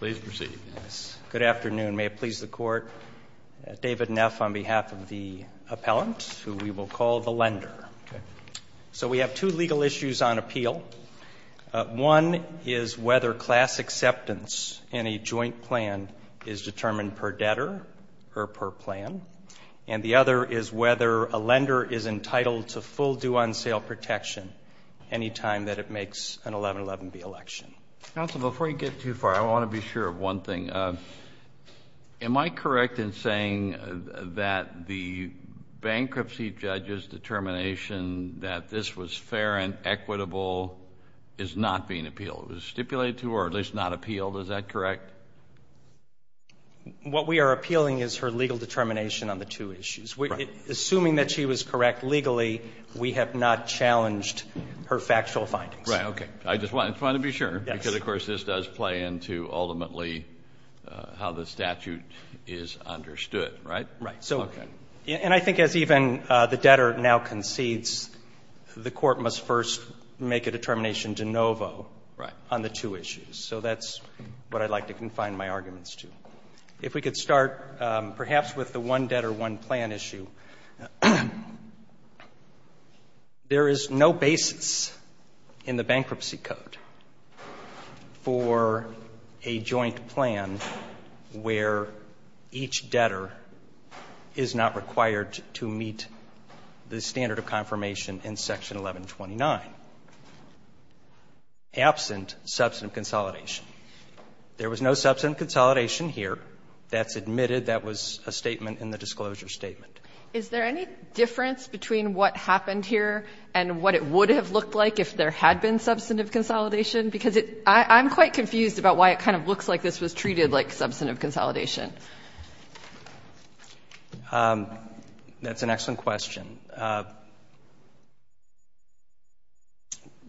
May it please the Court, David Neff on behalf of the appellant, who we will call the lender. So we have two legal issues on appeal. One is whether class acceptance in a joint plan is determined per debtor or per plan. And the other is whether a lender is entitled to full due-on-sale protection any time that it makes an 1111B election. Counsel, before you get too far, I want to be sure of one thing. Am I correct in saying that the bankruptcy judge's determination that this was fair and equitable is not being appealed? It was stipulated to or at least not appealed. Is that correct? What we are appealing is her legal determination on the two issues. Assuming that she was correct legally, we have not challenged her factual findings. Right. Okay. I just wanted to be sure. Because, of course, this does play into ultimately how the statute is understood, right? Right. So, and I think as even the debtor now concedes, the Court must first make a determination de novo on the two issues. So that's what I'd like to confine my arguments to. If we could start perhaps with the one debtor, one plan issue. There is no basis in the Bankruptcy Code for a joint plan where each debtor is not required to meet the standard of confirmation in Section 1129, absent substantive consolidation. There was no substantive consolidation here. That's admitted. That was a statement in the disclosure statement. Is there any difference between what happened here and what it would have looked like if there had been substantive consolidation? Because I'm quite confused about why it kind of looks like this was treated like substantive consolidation. That's an excellent question.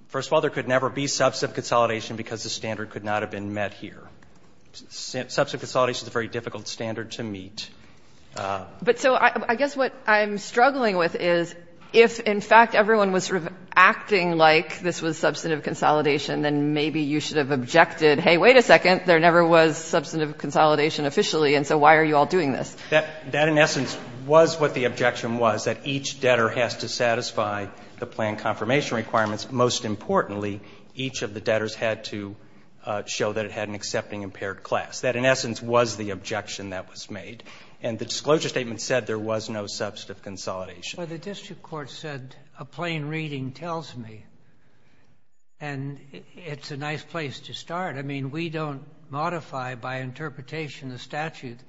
First of all, there could never be substantive consolidation because the standard could not have been met here. Substantive consolidation is a very difficult standard to meet. But so I guess what I'm struggling with is if in fact everyone was sort of acting like this was substantive consolidation, then maybe you should have objected, hey, wait a second, there never was substantive consolidation officially, and so why are you all doing this? That in essence was what the objection was, that each debtor has to satisfy the plan confirmation requirements. Most importantly, each of the debtors had to show that it had an accepting impaired class. That in essence was the objection that was made. And the disclosure statement said there was no substantive consolidation. But the district court said a plain reading tells me. And it's a nice place to start. I mean, we don't modify by interpretation the statute.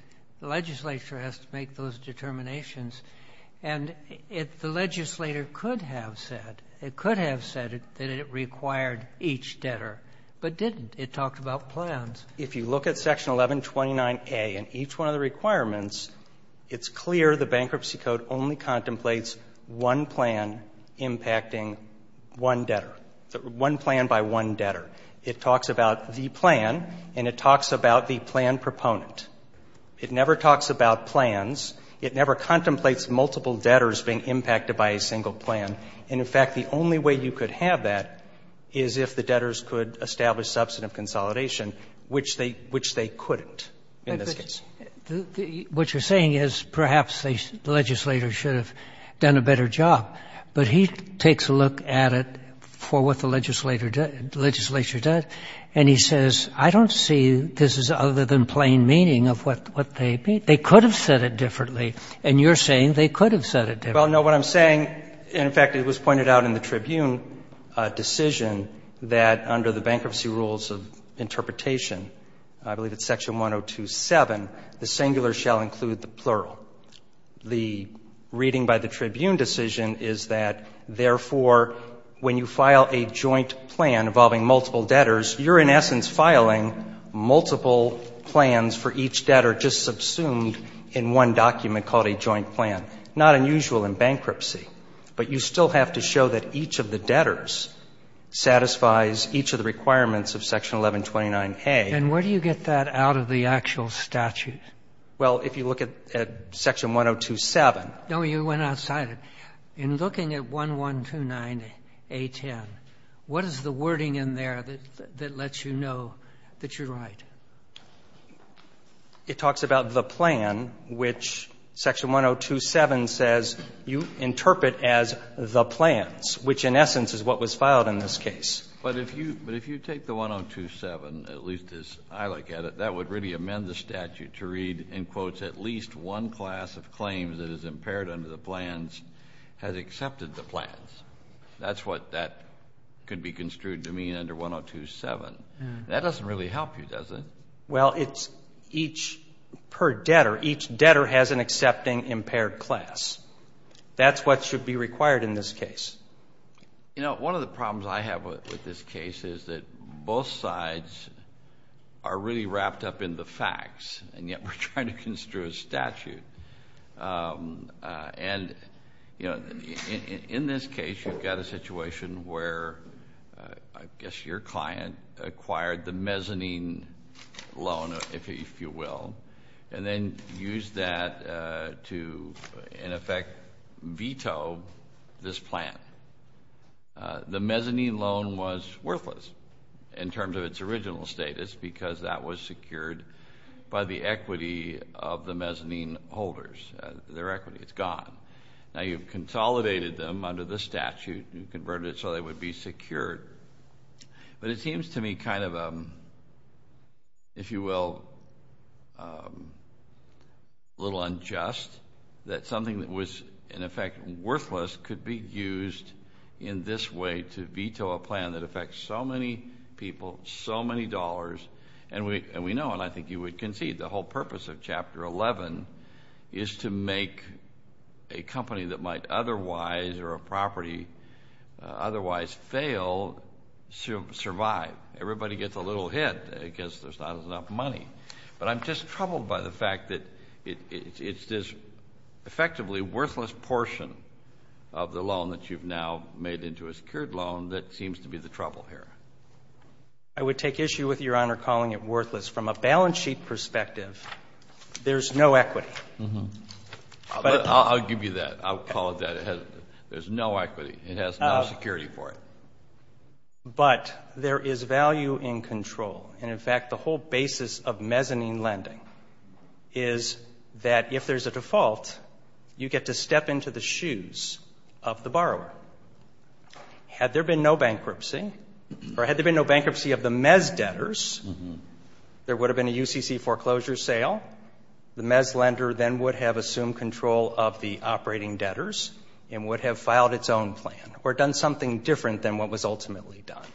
The legislature has to make those determinations. And if the legislator could have said, it could have said that it required each debtor, but didn't. It talked about plans. If you look at section 1129A and each one of the requirements, it's clear the bankruptcy code only contemplates one plan impacting one debtor, one plan by one debtor. It talks about the plan, and it talks about the plan proponent. It never talks about plans. It never contemplates multiple debtors being impacted by a single plan. And in fact, the only way you could have that is if the debtors could establish substantive consolidation, which they couldn't in this case. What you're saying is perhaps the legislator should have done a better job. But he takes a look at it for what the legislature does. And he says, I don't see this as other than plain meaning of what they mean. They could have said it differently. And you're saying they could have said it differently. Well, no. What I'm saying, in fact, it was pointed out in the Tribune decision that under the bankruptcy rules of interpretation, I believe it's section 1027, the singular shall include the plural. The reading by the Tribune decision is that, therefore, when you file a joint plan involving multiple debtors, you're in essence filing multiple plans for each debtor just subsumed in one document called a joint plan. Not unusual in bankruptcy, but you still have to show that each of the debtors satisfies each of the requirements of section 1129A. And where do you get that out of the actual statute? Well, if you look at section 1027. No, you went outside it. In looking at 1129A10, what is the wording in there that lets you know that you're right? It talks about the plan, which section 1027 says you interpret as the plans, which in essence is what was filed in this case. But if you take the 1027, at least as I look at it, that would really amend the statute to read, in quotes, at least one class of claims that is impaired under the plans has accepted the plans. That's what that could be construed to mean under 1027. That doesn't really help you, does it? Well, it's each per debtor. Each debtor has an accepting impaired class. That's what should be required in this case. You know, one of the problems I have with this case is that both sides are really wrapped up in the facts, and yet we're trying to construe a statute. And, you know, in this case, you've got a situation where, I guess, your client acquired the mezzanine loan, if you will, and then used that to, in effect, veto this plan. The mezzanine loan was worthless in terms of its original status because that was secured by the equity of the mezzanine holders, their equity. It's gone. Now, you've consolidated them under the statute, you've converted it so they would be secured. But it seems to me kind of, if you will, a little unjust that something that was, in fact, supposed to be used in this way to veto a plan that affects so many people, so many dollars. And we know, and I think you would concede, the whole purpose of Chapter 11 is to make a company that might otherwise, or a property otherwise fail, survive. Everybody gets a little hit because there's not enough money. But I'm just troubled by the fact that it's this effectively worthless portion of the loan that you've now made into a secured loan that seems to be the trouble here. I would take issue with Your Honor calling it worthless. From a balance sheet perspective, there's no equity. I'll give you that. I'll call it that. There's no equity. It has no security for it. But there is value in control. And in fact, the whole basis of mezzanine lending is that if there's a default, you get to step into the shoes of the borrower. Had there been no bankruptcy, or had there been no bankruptcy of the Mez debtors, there would have been a UCC foreclosure sale. The Mez lender then would have assumed control of the operating debtors and would have filed its own plan, or done something different than what was ultimately done.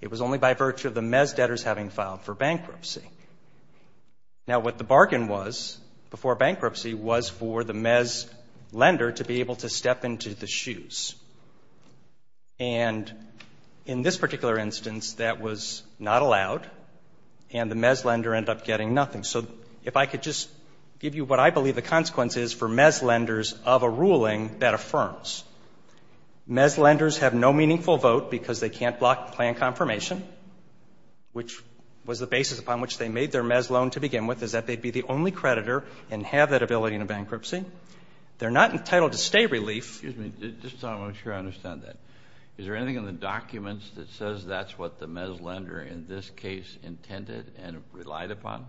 It was only by virtue of the Mez debtors having filed for bankruptcy. Now, what the bargain was before bankruptcy was for the Mez lender to be able to step into the shoes. And in this particular instance, that was not allowed and the Mez lender ended up getting nothing. So if I could just give you what I believe the consequence is for Mez lenders of a ruling that affirms. Mez lenders have no meaningful vote because they can't block the plan confirmation, which was the basis upon which they made their Mez loan to begin with, is that they'd be the only creditor and have that ability in a bankruptcy. They're not entitled to stay relief. Excuse me, just so I'm sure I understand that, is there anything in the documents that says that's what the Mez lender in this case intended and relied upon?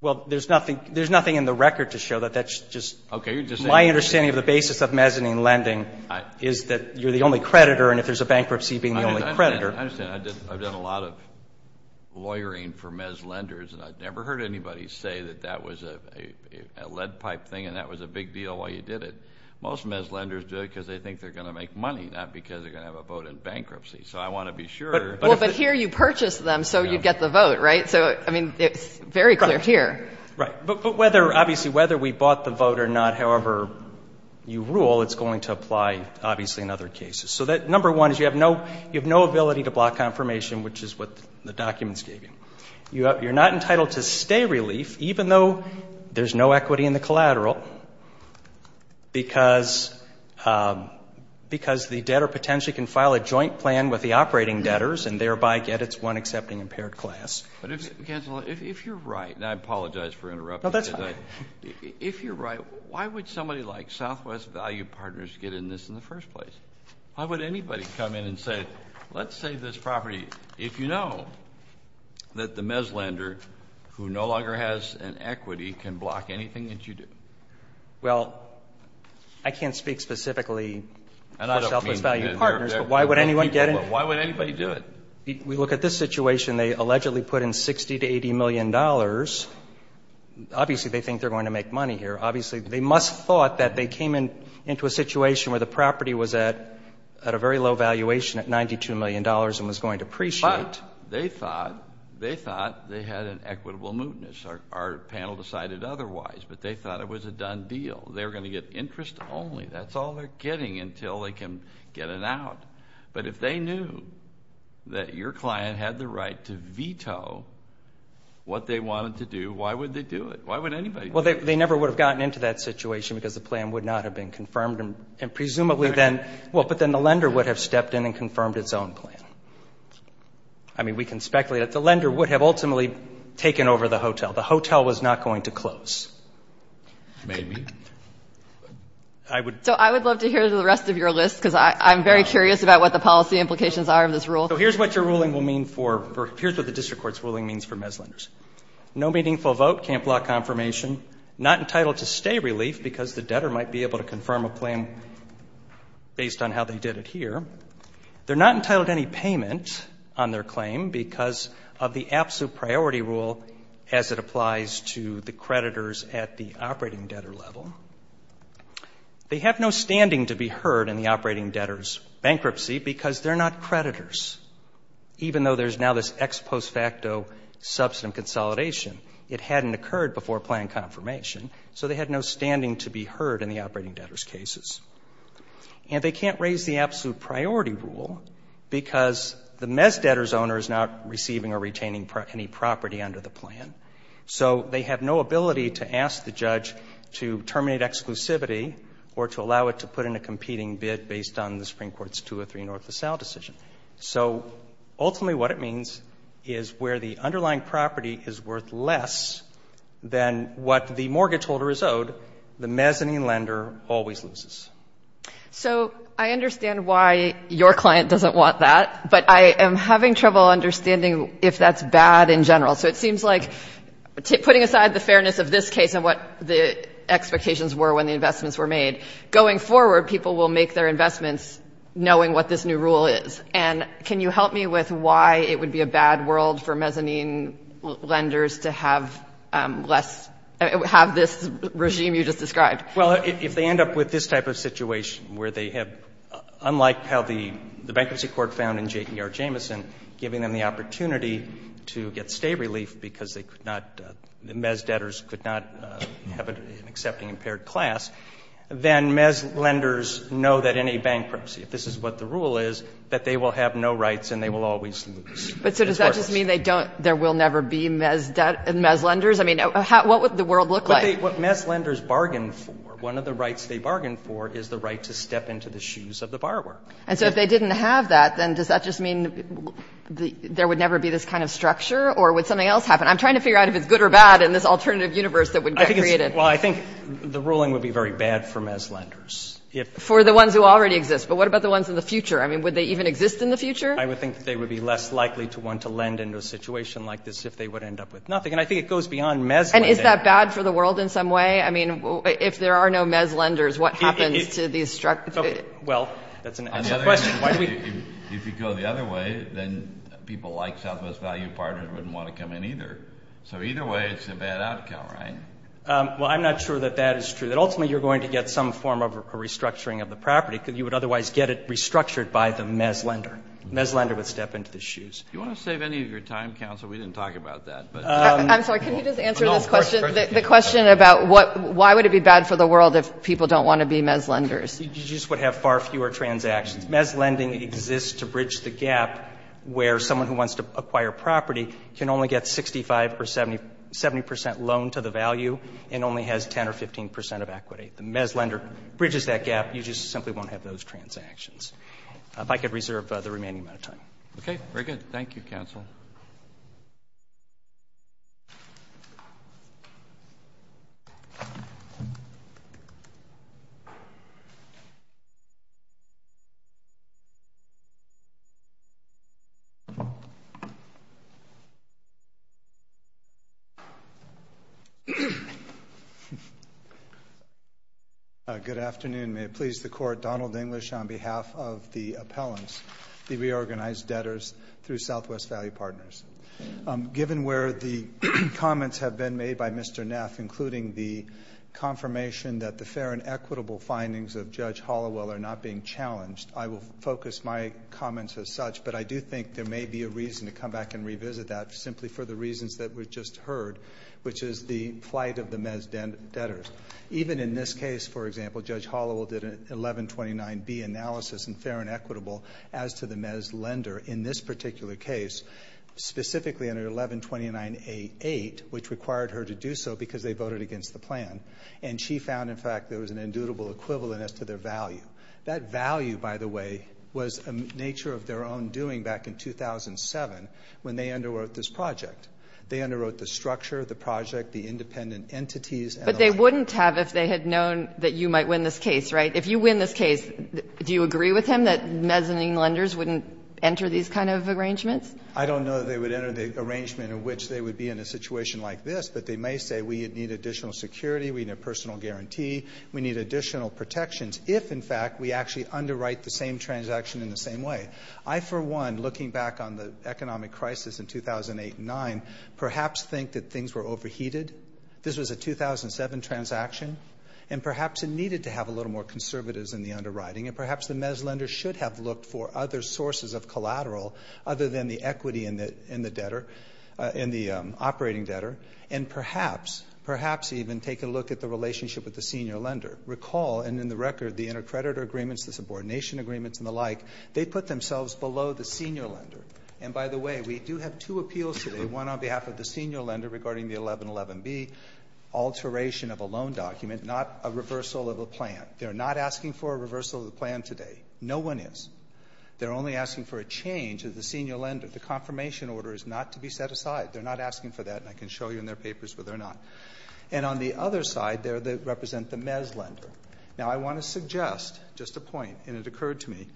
Well, there's nothing there's nothing in the record to show that that's just my understanding of the basis of Mezzanine lending, is that you're the only creditor and if there's a bankruptcy being the only creditor. I understand. I've done a lot of lawyering for Mez lenders and I've never heard anybody say that that was a lead pipe thing and that was a big deal while you did it. Most Mez lenders do it because they think they're going to make money, not because they're going to have a vote in bankruptcy. So I want to be sure. But here you purchased them so you'd get the vote, right? So, I mean, it's very clear here. Right. But whether, obviously, whether we bought the vote or not, however you rule, it's going to apply, obviously, in other cases. So that number one is you have no ability to block confirmation, which is what the documents gave you. You're not entitled to stay relief, even though there's no equity in the collateral, because the debtor potentially can file a joint plan with the operating debtors and thereby get its one accepting impaired class. But if you're right, and I apologize for interrupting, if you're right, why would somebody like Southwest Value Partners get in this in the first place? Why would anybody come in and say, let's say this property, if you know that the Mez lender who no longer has an equity can block anything that you do? Well, I can't speak specifically for Southwest Value Partners, but why would anyone get in? Why would anybody do it? We look at this situation. They allegedly put in 60 to 80 million dollars. Obviously, they think they're going to make money here. Obviously, they must have thought that they came into a situation where the property was at a very low valuation at 92 million dollars and was going to appreciate. They thought they had an equitable mootness. Our panel decided otherwise, but they thought it was a done deal. They were going to get interest only. That's all they're getting until they can get it out. But if they knew that your client had the right to veto what they wanted to do, why would they do it? Why would anybody do it? Well, they never would have gotten into that situation because the plan would not have been confirmed, and presumably then, well, but then the lender would have stepped in and confirmed its own plan. I mean, we can speculate that the lender would have ultimately taken over the hotel. The hotel was not going to close. Maybe. I would. So I would love to hear the rest of your list, because I'm very curious about what the policy implications are of this rule. So here's what your ruling will mean for, or here's what the district court's ruling means for MES lenders. No meaningful vote, can't block confirmation, not entitled to stay relief because the debtor might be able to confirm a plan based on how they did it here. They're not entitled to any payment on their claim because of the absolute priority rule as it applies to the creditors at the operating debtor level. They have no standing to be heard in the operating debtors bankruptcy because they're not creditors. Even though there's now this ex post facto substantive consolidation, it hadn't occurred before plan confirmation. So they had no standing to be heard in the operating debtors cases. And they can't raise the absolute priority rule because the MES debtors owner is not receiving or retaining any property under the plan. So they have no ability to ask the judge to terminate exclusivity or to allow it to put in a competing bid based on the Supreme Court's two or three north of south decision. So ultimately what it means is where the underlying property is worth less than what the mortgage holder is owed, the MES lending lender always loses. So I understand why your client doesn't want that, but I am having trouble understanding if that's bad in general. So it seems like putting aside the fairness of this case and what the expectations were when the investments were made, going forward, people will make their investments knowing what this new rule is. And can you help me with why it would be a bad world for mezzanine lenders to have less, have this regime you just described? Well, if they end up with this type of situation where they have, unlike how the MES debtors could not have an accepting impaired class, then MES lenders know that in a bankruptcy, if this is what the rule is, that they will have no rights and they will always lose. But so does that just mean there will never be MES debt, MES lenders? I mean, what would the world look like? What MES lenders bargain for, one of the rights they bargain for is the right to step into the shoes of the borrower. And so if they didn't have that, then does that just mean there would never be this kind of structure or would something else happen? I'm trying to figure out if it's good or bad in this alternative universe that would get created. Well, I think the ruling would be very bad for MES lenders. For the ones who already exist. But what about the ones in the future? I mean, would they even exist in the future? I would think that they would be less likely to want to lend into a situation like this if they would end up with nothing. And I think it goes beyond MES. And is that bad for the world in some way? I mean, if there are no MES lenders, what happens to these structures? Well, that's an excellent question. If you go the other way, then people like Southwest Value Partners wouldn't want to come in either. So either way, it's a bad outcome, right? Well, I'm not sure that that is true. That ultimately, you're going to get some form of a restructuring of the property because you would otherwise get it restructured by the MES lender. MES lender would step into the shoes. Do you want to save any of your time, counsel? We didn't talk about that. I'm sorry. Can you just answer this question, the question about why would it be bad for the world if people don't want to be MES lenders? You just would have far fewer transactions. MES lending exists to bridge the gap where someone who wants to acquire property can only get 65 or 70 percent loan to the value and only has 10 or 15 percent of equity. The MES lender bridges that gap. You just simply won't have those transactions. If I could reserve the remaining amount of time. Okay, very good. Thank you, counsel. Good afternoon. May it please the Court. Donald English on behalf of the appellants, the reorganized debtors through Southwest Value Partners. Given where the comments have been made by Mr. Neff, including the confirmation that the fair and equitable findings of Judge Hollowell focus my comments as such, but I do think there may be a reason to come back and revisit that simply for the reasons that were just heard, which is the flight of the MES debtors. Even in this case, for example, Judge Hollowell did an 1129B analysis in fair and equitable as to the MES lender in this particular case, specifically under 1129A8, which required her to do so because they voted against the plan. And she found, in fact, there was an indubitable equivalent as to their value. That value, by the way, was a nature of their own doing back in 2007 when they underwrote this project. They underwrote the structure, the project, the independent entities. But they wouldn't have if they had known that you might win this case, right? If you win this case, do you agree with him that mezzanine lenders wouldn't enter these kind of arrangements? I don't know that they would enter the arrangement in which they would be in a situation like this, but they may say we need additional security, we need a personal guarantee, we need additional protections if, in fact, we actually underwrite the same transaction in the same way. I, for one, looking back on the economic crisis in 2008 and 2009, perhaps think that things were overheated. This was a 2007 transaction, and perhaps it needed to have a little more conservatives in the underwriting. And perhaps the MES lender should have looked for other sources of collateral other than the equity in the debtor, in the operating debtor. And perhaps, perhaps even take a look at the relationship with the senior lender. Recall, and in the record, the intercreditor agreements, the subordination agreements, and the like, they put themselves below the senior lender. And by the way, we do have two appeals today, one on behalf of the senior lender regarding the 1111B alteration of a loan document, not a reversal of a plan. They're not asking for a reversal of the plan today. No one is. They're only asking for a change of the senior lender. The confirmation order is not to be set aside. They're not asking for that, and I can show you in their papers whether or not. And on the other side there, they represent the MES lender. Now, I want to suggest just a point, and it occurred to me,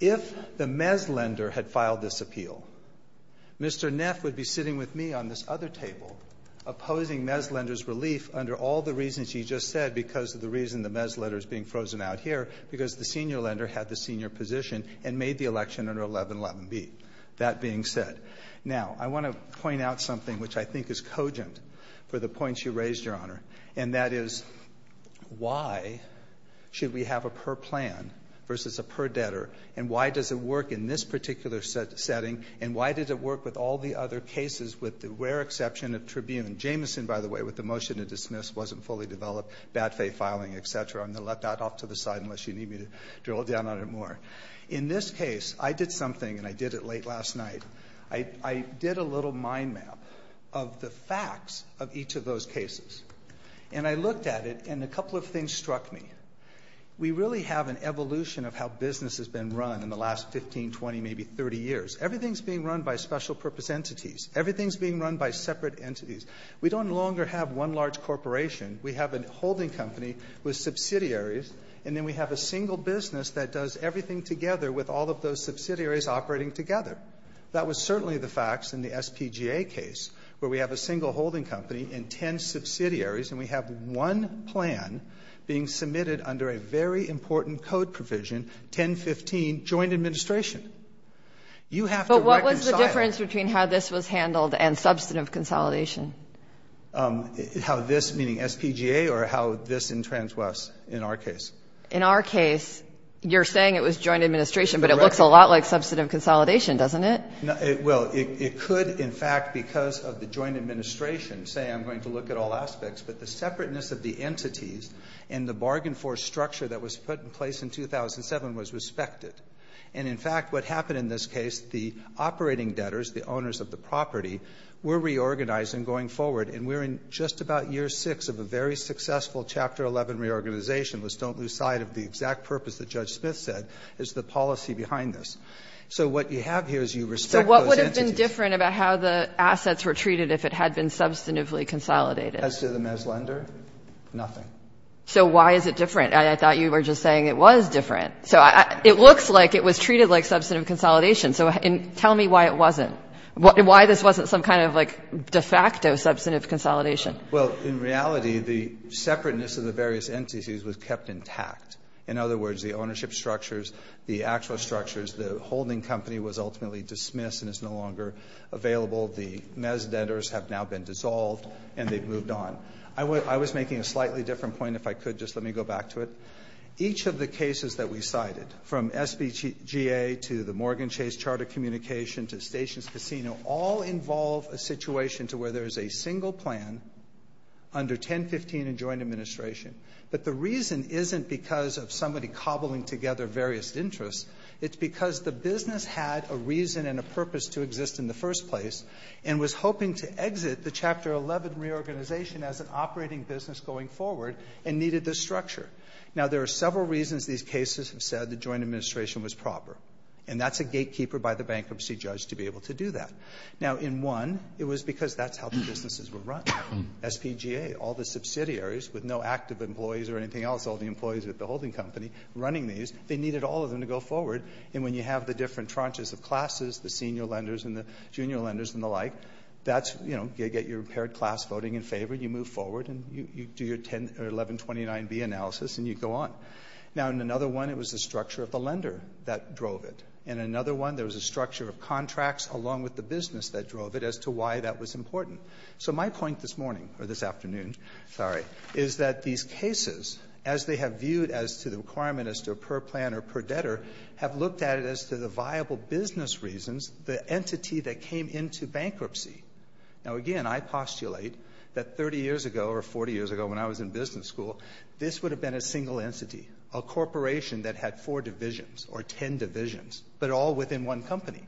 if the MES lender had filed this appeal, Mr. Neff would be sitting with me on this other table opposing MES lender's relief under all the reasons he just said because of the reason the MES lender is being frozen out here, because the senior lender had the senior position and made the election under 1111B, that being said. Now, I want to point out something which I think is cogent for the points you raised, Your Honor, and that is why should we have a per plan versus a per debtor, and why does it work in this particular setting, and why did it work with all the other cases with the rare exception of Tribune? Jameson, by the way, with the motion to dismiss, wasn't fully developed, bad faith filing, et cetera. I'm going to let that off to the side unless you need me to drill down on it more. In this case, I did something, and I did it late last night. I did a little mind map of the facts of each of those cases, and I looked at it, and a couple of things struck me. We really have an evolution of how business has been run in the last 15, 20, maybe 30 years. Everything's being run by special purpose entities. Everything's being run by separate entities. We don't longer have one large corporation. We have a holding company with subsidiaries, and then we have a single business that does everything together with all of those subsidiaries operating together. That was certainly the facts in the SPGA case, where we have a single holding company and 10 subsidiaries, and we have one plan being submitted under a very important code provision, 1015, joint administration. You have to reconcile. But what was the difference between how this was handled and substantive consolidation? How this, meaning SPGA, or how this entrenched was in our case? In our case, you're saying it was joint administration, but it looks a lot like a separate entity, doesn't it? Well, it could, in fact, because of the joint administration, say I'm going to look at all aspects, but the separateness of the entities and the bargain force structure that was put in place in 2007 was respected. And in fact, what happened in this case, the operating debtors, the owners of the property, were reorganized in going forward, and we're in just about year six of a very successful Chapter 11 reorganization. Let's don't lose sight of the exact purpose that Judge Smith said is the policy behind this. So what you have here is you respect those entities. So what would have been different about how the assets were treated if it had been substantively consolidated? As to the MES lender, nothing. So why is it different? I thought you were just saying it was different. So it looks like it was treated like substantive consolidation. So tell me why it wasn't, why this wasn't some kind of, like, de facto substantive consolidation. Well, in reality, the separateness of the various entities was kept intact. In other words, the ownership structures, the actual structures, the holding company was ultimately dismissed and is no longer available. The MES debtors have now been dissolved and they've moved on. I was making a slightly different point, if I could just let me go back to it. Each of the cases that we cited, from SBGA to the Morgan Chase Charter Communication to Stations Casino, all involve a situation to where there is a single plan under 1015 in joint administration. But the reason isn't because of somebody cobbling together various interests. It's because the business had a reason and a purpose to exist in the first place and was hoping to exit the Chapter 11 reorganization as an operating business going forward and needed this structure. Now, there are several reasons these cases have said the joint administration was proper, and that's a gatekeeper by the bankruptcy judge to be able to do that. Now, in one, it was because that's how the businesses were run. SPGA, all the subsidiaries with no active employees or anything else, all the employees at the holding company running these, they needed all of them to go forward. And when you have the different tranches of classes, the senior lenders and the junior lenders and the like, that's, you know, get your paired class voting in favor, you move forward and you do your 10 or 1129B analysis and you go on. Now, in another one, it was the structure of the lender that drove it. In another one, there was a structure of contracts along with the business that drove it as to why that was important. So my point this morning or this afternoon, sorry, is that these cases, as they have viewed as to the requirement as to per plan or per debtor, have looked at it as to the viable business reasons, the entity that came into bankruptcy. Now, again, I postulate that 30 years ago or 40 years ago when I was in business school, this would have been a single entity, a corporation that had four divisions or 10 divisions, but all within one company.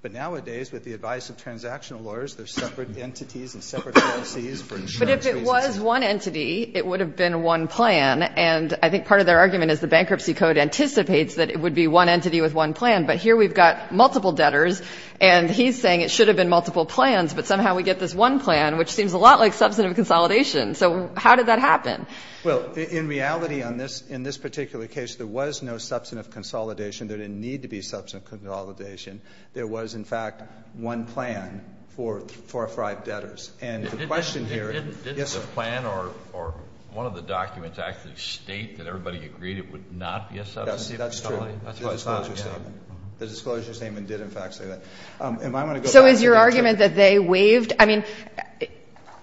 But nowadays, with the advice of transactional lawyers, there's separate entities and separate policies for insurance reasons. But if it was one entity, it would have been one plan. And I think part of their argument is the bankruptcy code anticipates that it would be one entity with one plan. But here we've got multiple debtors and he's saying it should have been multiple plans, but somehow we get this one plan, which seems a lot like substantive consolidation. So how did that happen? Well, in reality, in this particular case, there was no substantive consolidation. There didn't need to be substantive consolidation. There was, in fact, one plan for our five debtors. And the question here. Didn't the plan or one of the documents actually state that everybody agreed it would not be a substantive consolidation? Yes, that's true. That's why it's not, yeah. The disclosure statement did, in fact, say that. And I'm going to go back to that. So is your argument that they waived? I mean,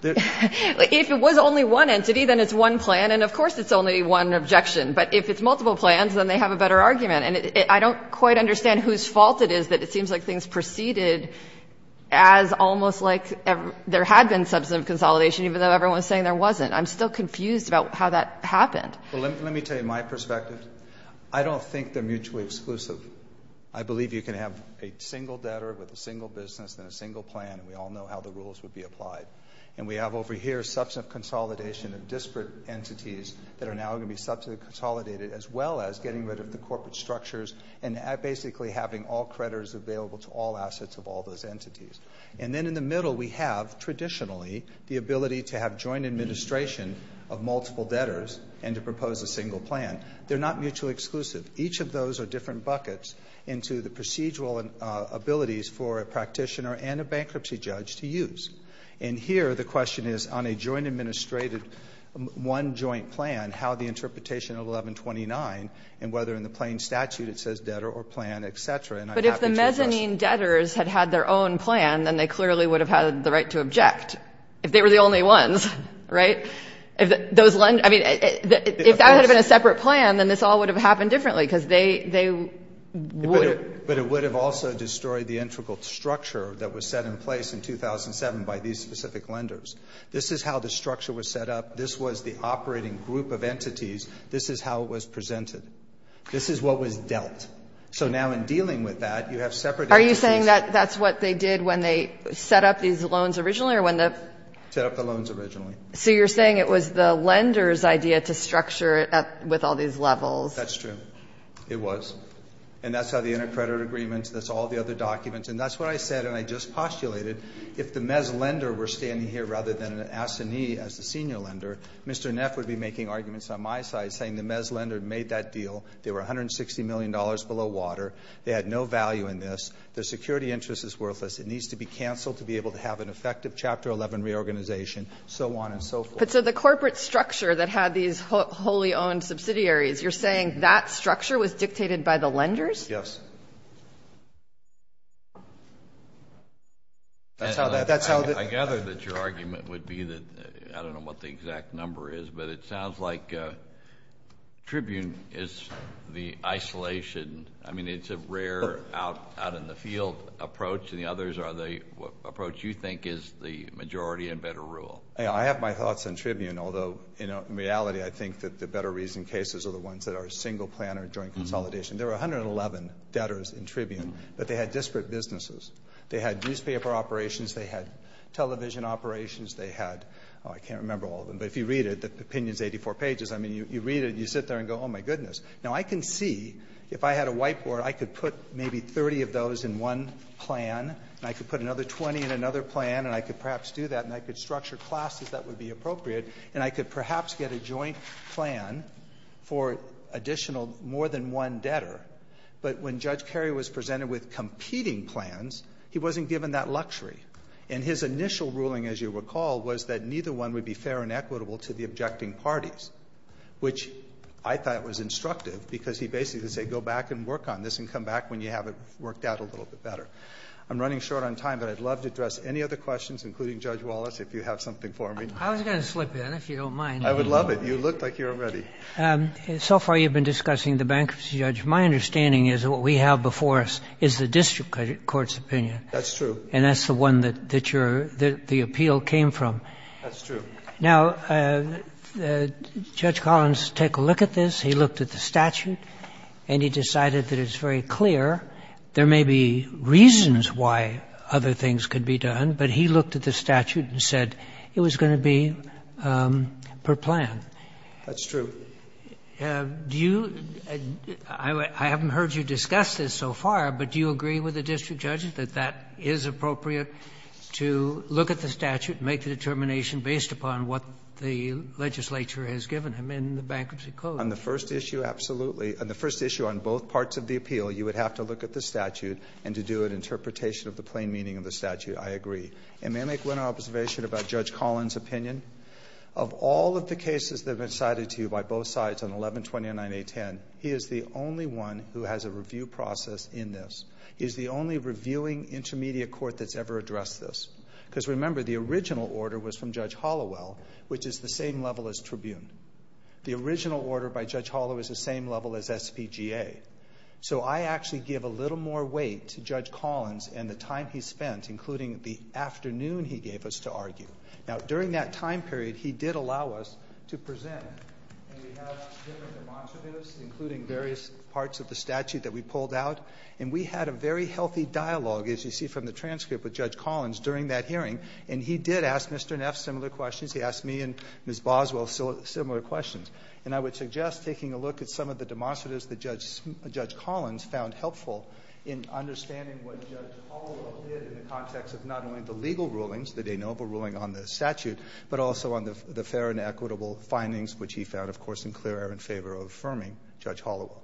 if it was only one entity, then it's one plan. And of course, it's only one objection. But if it's multiple plans, then they have a better argument. And I don't quite understand whose fault it is that it seems like things proceeded as almost like there had been substantive consolidation, even though everyone was saying there wasn't. I'm still confused about how that happened. Well, let me tell you my perspective. I don't think they're mutually exclusive. I believe you can have a single debtor with a single business and a single plan. And we all know how the rules would be applied. And we have over here substantive consolidation of disparate entities that are now going to be substantive consolidated, as well as getting rid of the corporate structures and basically having all creditors available to all assets of all those entities. And then in the middle, we have traditionally the ability to have joint administration of multiple debtors and to propose a single plan. They're not mutually exclusive. Each of those are different buckets into the procedural abilities for a practitioner and a bankruptcy judge to use. And here the question is on a joint administrated one joint plan, how the statute, it says debtor or plan, et cetera. But if the mezzanine debtors had had their own plan, then they clearly would have had the right to object if they were the only ones. Right. If those lend. I mean, if that had been a separate plan, then this all would have happened differently because they they would. But it would have also destroyed the integral structure that was set in place in 2007 by these specific lenders. This is how the structure was set up. This was the operating group of entities. This is how it was presented. This is what was dealt. So now in dealing with that, you have separate. Are you saying that that's what they did when they set up these loans originally or when they set up the loans originally? So you're saying it was the lender's idea to structure it with all these levels? That's true. It was. And that's how the intercreditor agreements, that's all the other documents. And that's what I said. And I just postulated if the Mez lender were standing here rather than an assignee as the senior lender, Mr. Neff would be making arguments on my side, saying the Mez lender made that deal. They were 160 million dollars below water. They had no value in this. Their security interest is worthless. It needs to be canceled to be able to have an effective Chapter 11 reorganization. So on and so forth. So the corporate structure that had these wholly owned subsidiaries, you're saying that structure was dictated by the lenders? Yes. I gather that your argument would be that I don't know what the exact number is, but it sounds like Tribune is the isolation. I mean, it's a rare out-in-the-field approach. And the others are the approach you think is the majority and better rule. I have my thoughts on Tribune, although in reality, I think that the better reason cases are the ones that are single planner joint consolidation. There were 111 debtors in Tribune, but they had disparate businesses. They had newspaper operations. They had, I can't remember all of them. But if you read it, the opinion is 84 pages. I mean, you read it and you sit there and go, oh, my goodness. Now, I can see if I had a whiteboard, I could put maybe 30 of those in one plan, and I could put another 20 in another plan, and I could perhaps do that, and I could structure classes that would be appropriate, and I could perhaps get a joint plan for additional more than one debtor. But when Judge Kerry was presented with competing plans, he wasn't given that luxury. And his initial ruling, as you recall, was that neither one would be fair and equitable to the objecting parties, which I thought was instructive because he basically would say, go back and work on this and come back when you have it worked out a little bit better. I'm running short on time, but I'd love to address any other questions, including Judge Wallace, if you have something for me. I was going to slip in, if you don't mind. I would love it. You look like you're ready. So far, you've been discussing the bankruptcy, Judge. My understanding is that what we have before us is the district court's opinion. That's true. And that's the one that the appeal came from. That's true. Now, Judge Collins, take a look at this. He looked at the statute, and he decided that it's very clear there may be reasons why other things could be done, but he looked at the statute and said it was going to be per plan. That's true. Do you, I haven't heard you discuss this so far, but do you agree with the district judge that that is appropriate to look at the statute and make the determination based upon what the legislature has given him in the bankruptcy code? On the first issue, absolutely. On the first issue, on both parts of the appeal, you would have to look at the statute and to do an interpretation of the plain meaning of the statute. I agree. And may I make one observation about Judge Collins' opinion? Of all of the cases that have been cited to you by both sides on 1129A10, he is the only one who has a review process in this. He is the only reviewing intermediate court that's ever addressed this, because remember, the original order was from Judge Hollowell, which is the same level as Tribune. The original order by Judge Hollowell is the same level as SPGA. So I actually give a little more weight to Judge Collins and the time he spent, including the afternoon he gave us to argue. Now, during that time period, he did allow us to present, and we have different demonstratives, including various parts of the statute that we pulled out. And we had a very healthy dialogue, as you see from the transcript, with Judge Collins during that hearing. And he did ask Mr. Neff similar questions. He asked me and Ms. Boswell similar questions. And I would suggest taking a look at some of the demonstratives that Judge Collins found helpful in understanding what Judge Hollowell did in the context of not only the legal rulings, the de novo ruling on the statute, but also on the fair and equitable findings, which he found, of course, in clear error in favor of affirming Judge Hollowell.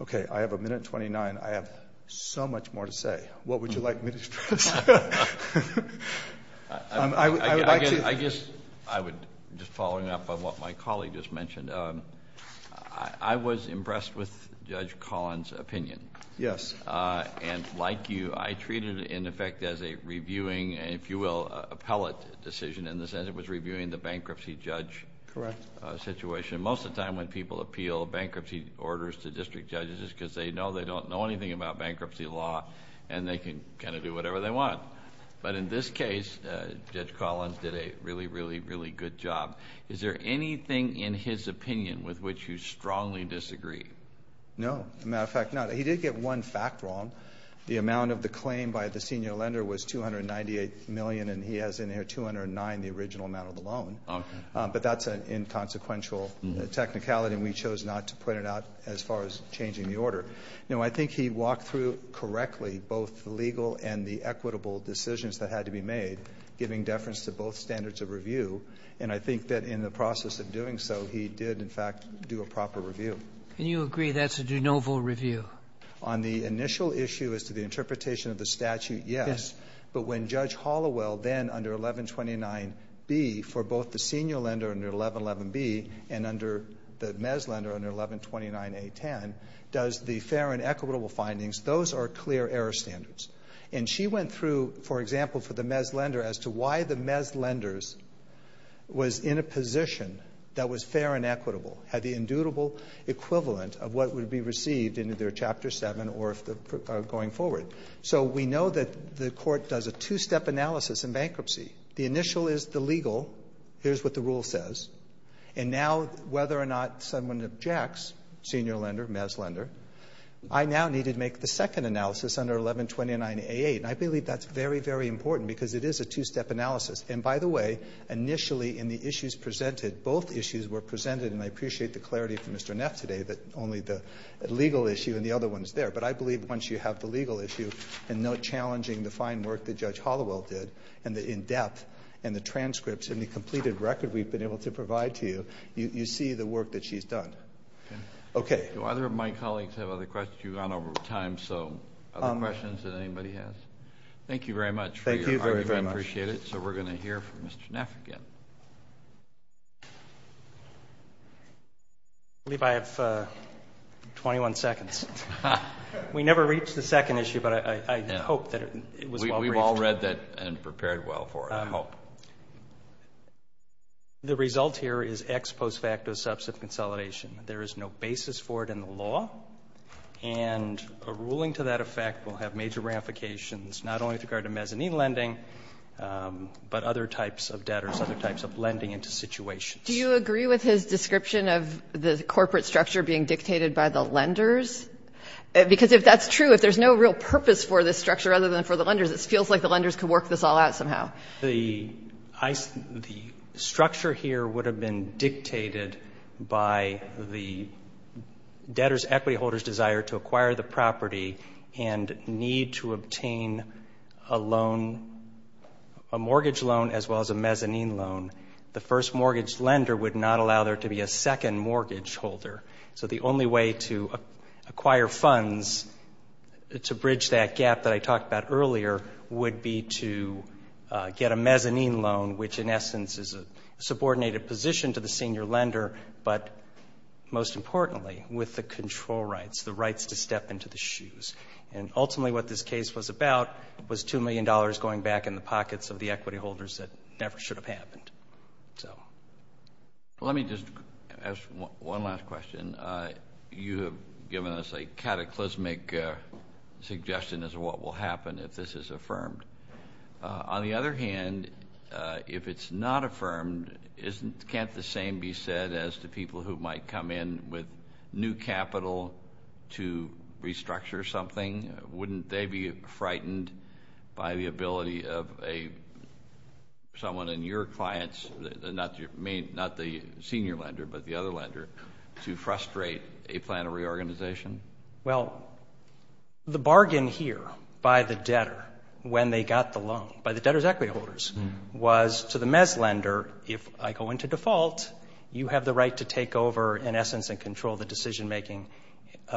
Okay. I have a minute and 29. I have so much more to say. What would you like me to say? I guess I would, just following up on what my colleague just mentioned, I was impressed with Judge Collins' opinion. Yes. And like you, I treated it, in effect, as a reviewing, if you will, appellate decision in the sense it was reviewing the bankruptcy judge situation. Most of the time when people appeal bankruptcy orders to district judges, it's because they don't know anything about bankruptcy law and they can kind of do whatever they want. But in this case, Judge Collins did a really, really, really good job. Is there anything in his opinion with which you strongly disagree? No. As a matter of fact, no. He did get one fact wrong. The amount of the claim by the senior lender was $298 million and he has in there $209, the original amount of the loan. But that's an inconsequential technicality and we chose not to put it out as far as changing the order. No, I think he walked through correctly both the legal and the equitable decisions that had to be made, giving deference to both standards of review. And I think that in the process of doing so, he did, in fact, do a proper review. And you agree that's a de novo review? On the initial issue as to the interpretation of the statute, yes. But when Judge Hollowell then, under 1129B, for both the senior lender under 1111B and under the Mez lender under 1129A10, does the fair and equitable findings, those are clear error standards. And she went through, for example, for the Mez lender as to why the Mez lenders was in a position that was fair and equitable, had the inducible equivalent of what would be received in either Chapter 7 or going forward. So we know that the court does a two-step analysis in bankruptcy. The initial is the legal. Here's what the rule says. And now, whether or not someone objects, senior lender, Mez lender, I now need to make the second analysis under 1129A8. And I believe that's very, very important because it is a two-step analysis. And by the way, initially in the issues presented, both issues were presented, and I appreciate the clarity from Mr. Neff today that only the legal issue and the other one is there. But I believe once you have the legal issue and no challenging the fine work that Judge Hollowell did and the in-depth and the transcripts and the completed record we've been able to provide to you, you see the work that she's done. Okay. Do either of my colleagues have other questions? You've gone over time. So other questions that anybody has? Thank you very much. Thank you very, very much. I appreciate it. So we're going to hear from Mr. Neff again. I believe I have 21 seconds. We never reached the second issue, but I hope that it was well briefed. We've all read that and prepared well for it, I hope. The result here is ex post facto subs of consolidation. There is no basis for it in the law. And a ruling to that effect will have major ramifications, not only with regard to mezzanine lending, but other types of debtors, other types of lending into situations. Do you agree with his description of the corporate structure being dictated by the lenders? Because if that's true, if there's no real purpose for this structure other than for the lenders, it feels like the lenders could work this all out somehow. The structure here would have been dictated by the debtor's equity holder's desire to acquire the property and need to obtain a mortgage loan as well as a mezzanine loan. The first mortgage lender would not allow there to be a second mortgage holder. So the only way to acquire funds to bridge that gap that I talked about earlier would be to get a mezzanine loan, which in essence is a subordinated position to the senior lender, but most importantly, with the control rights, the rights to step into the shoes. And ultimately what this case was about was $2 million going back in the pockets of the equity holders that never should have happened. Let me just ask one last question. You have given us a cataclysmic suggestion as to what will happen if this is affirmed. On the other hand, if it's not affirmed, can't the same be said as to people who might come in with new capital to restructure something? Wouldn't they be frightened by the ability of someone in your clients, not the senior lender, but the other lender, to frustrate a plan of reorganization? Well, the bargain here by the debtor when they got the loan, by the debtor's equity holders, was to the mezz lender, if I go into default, you have the right to take over in essence and control the decision making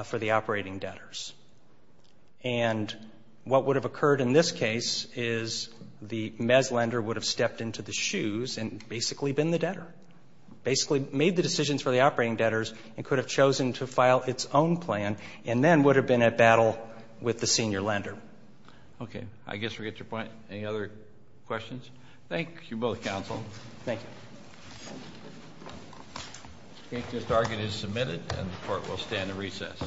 for the operating debtors. And what would have occurred in this case is the mezz lender would have stepped into the shoes and basically been the debtor, basically made the decisions for the operating debtors and could have chosen to file its own plan and then would have been at battle with the senior lender. Okay. I guess we get your point. Any other questions? Thank you both, counsel. Thank you. I think this argument is submitted and the court will stand at recess.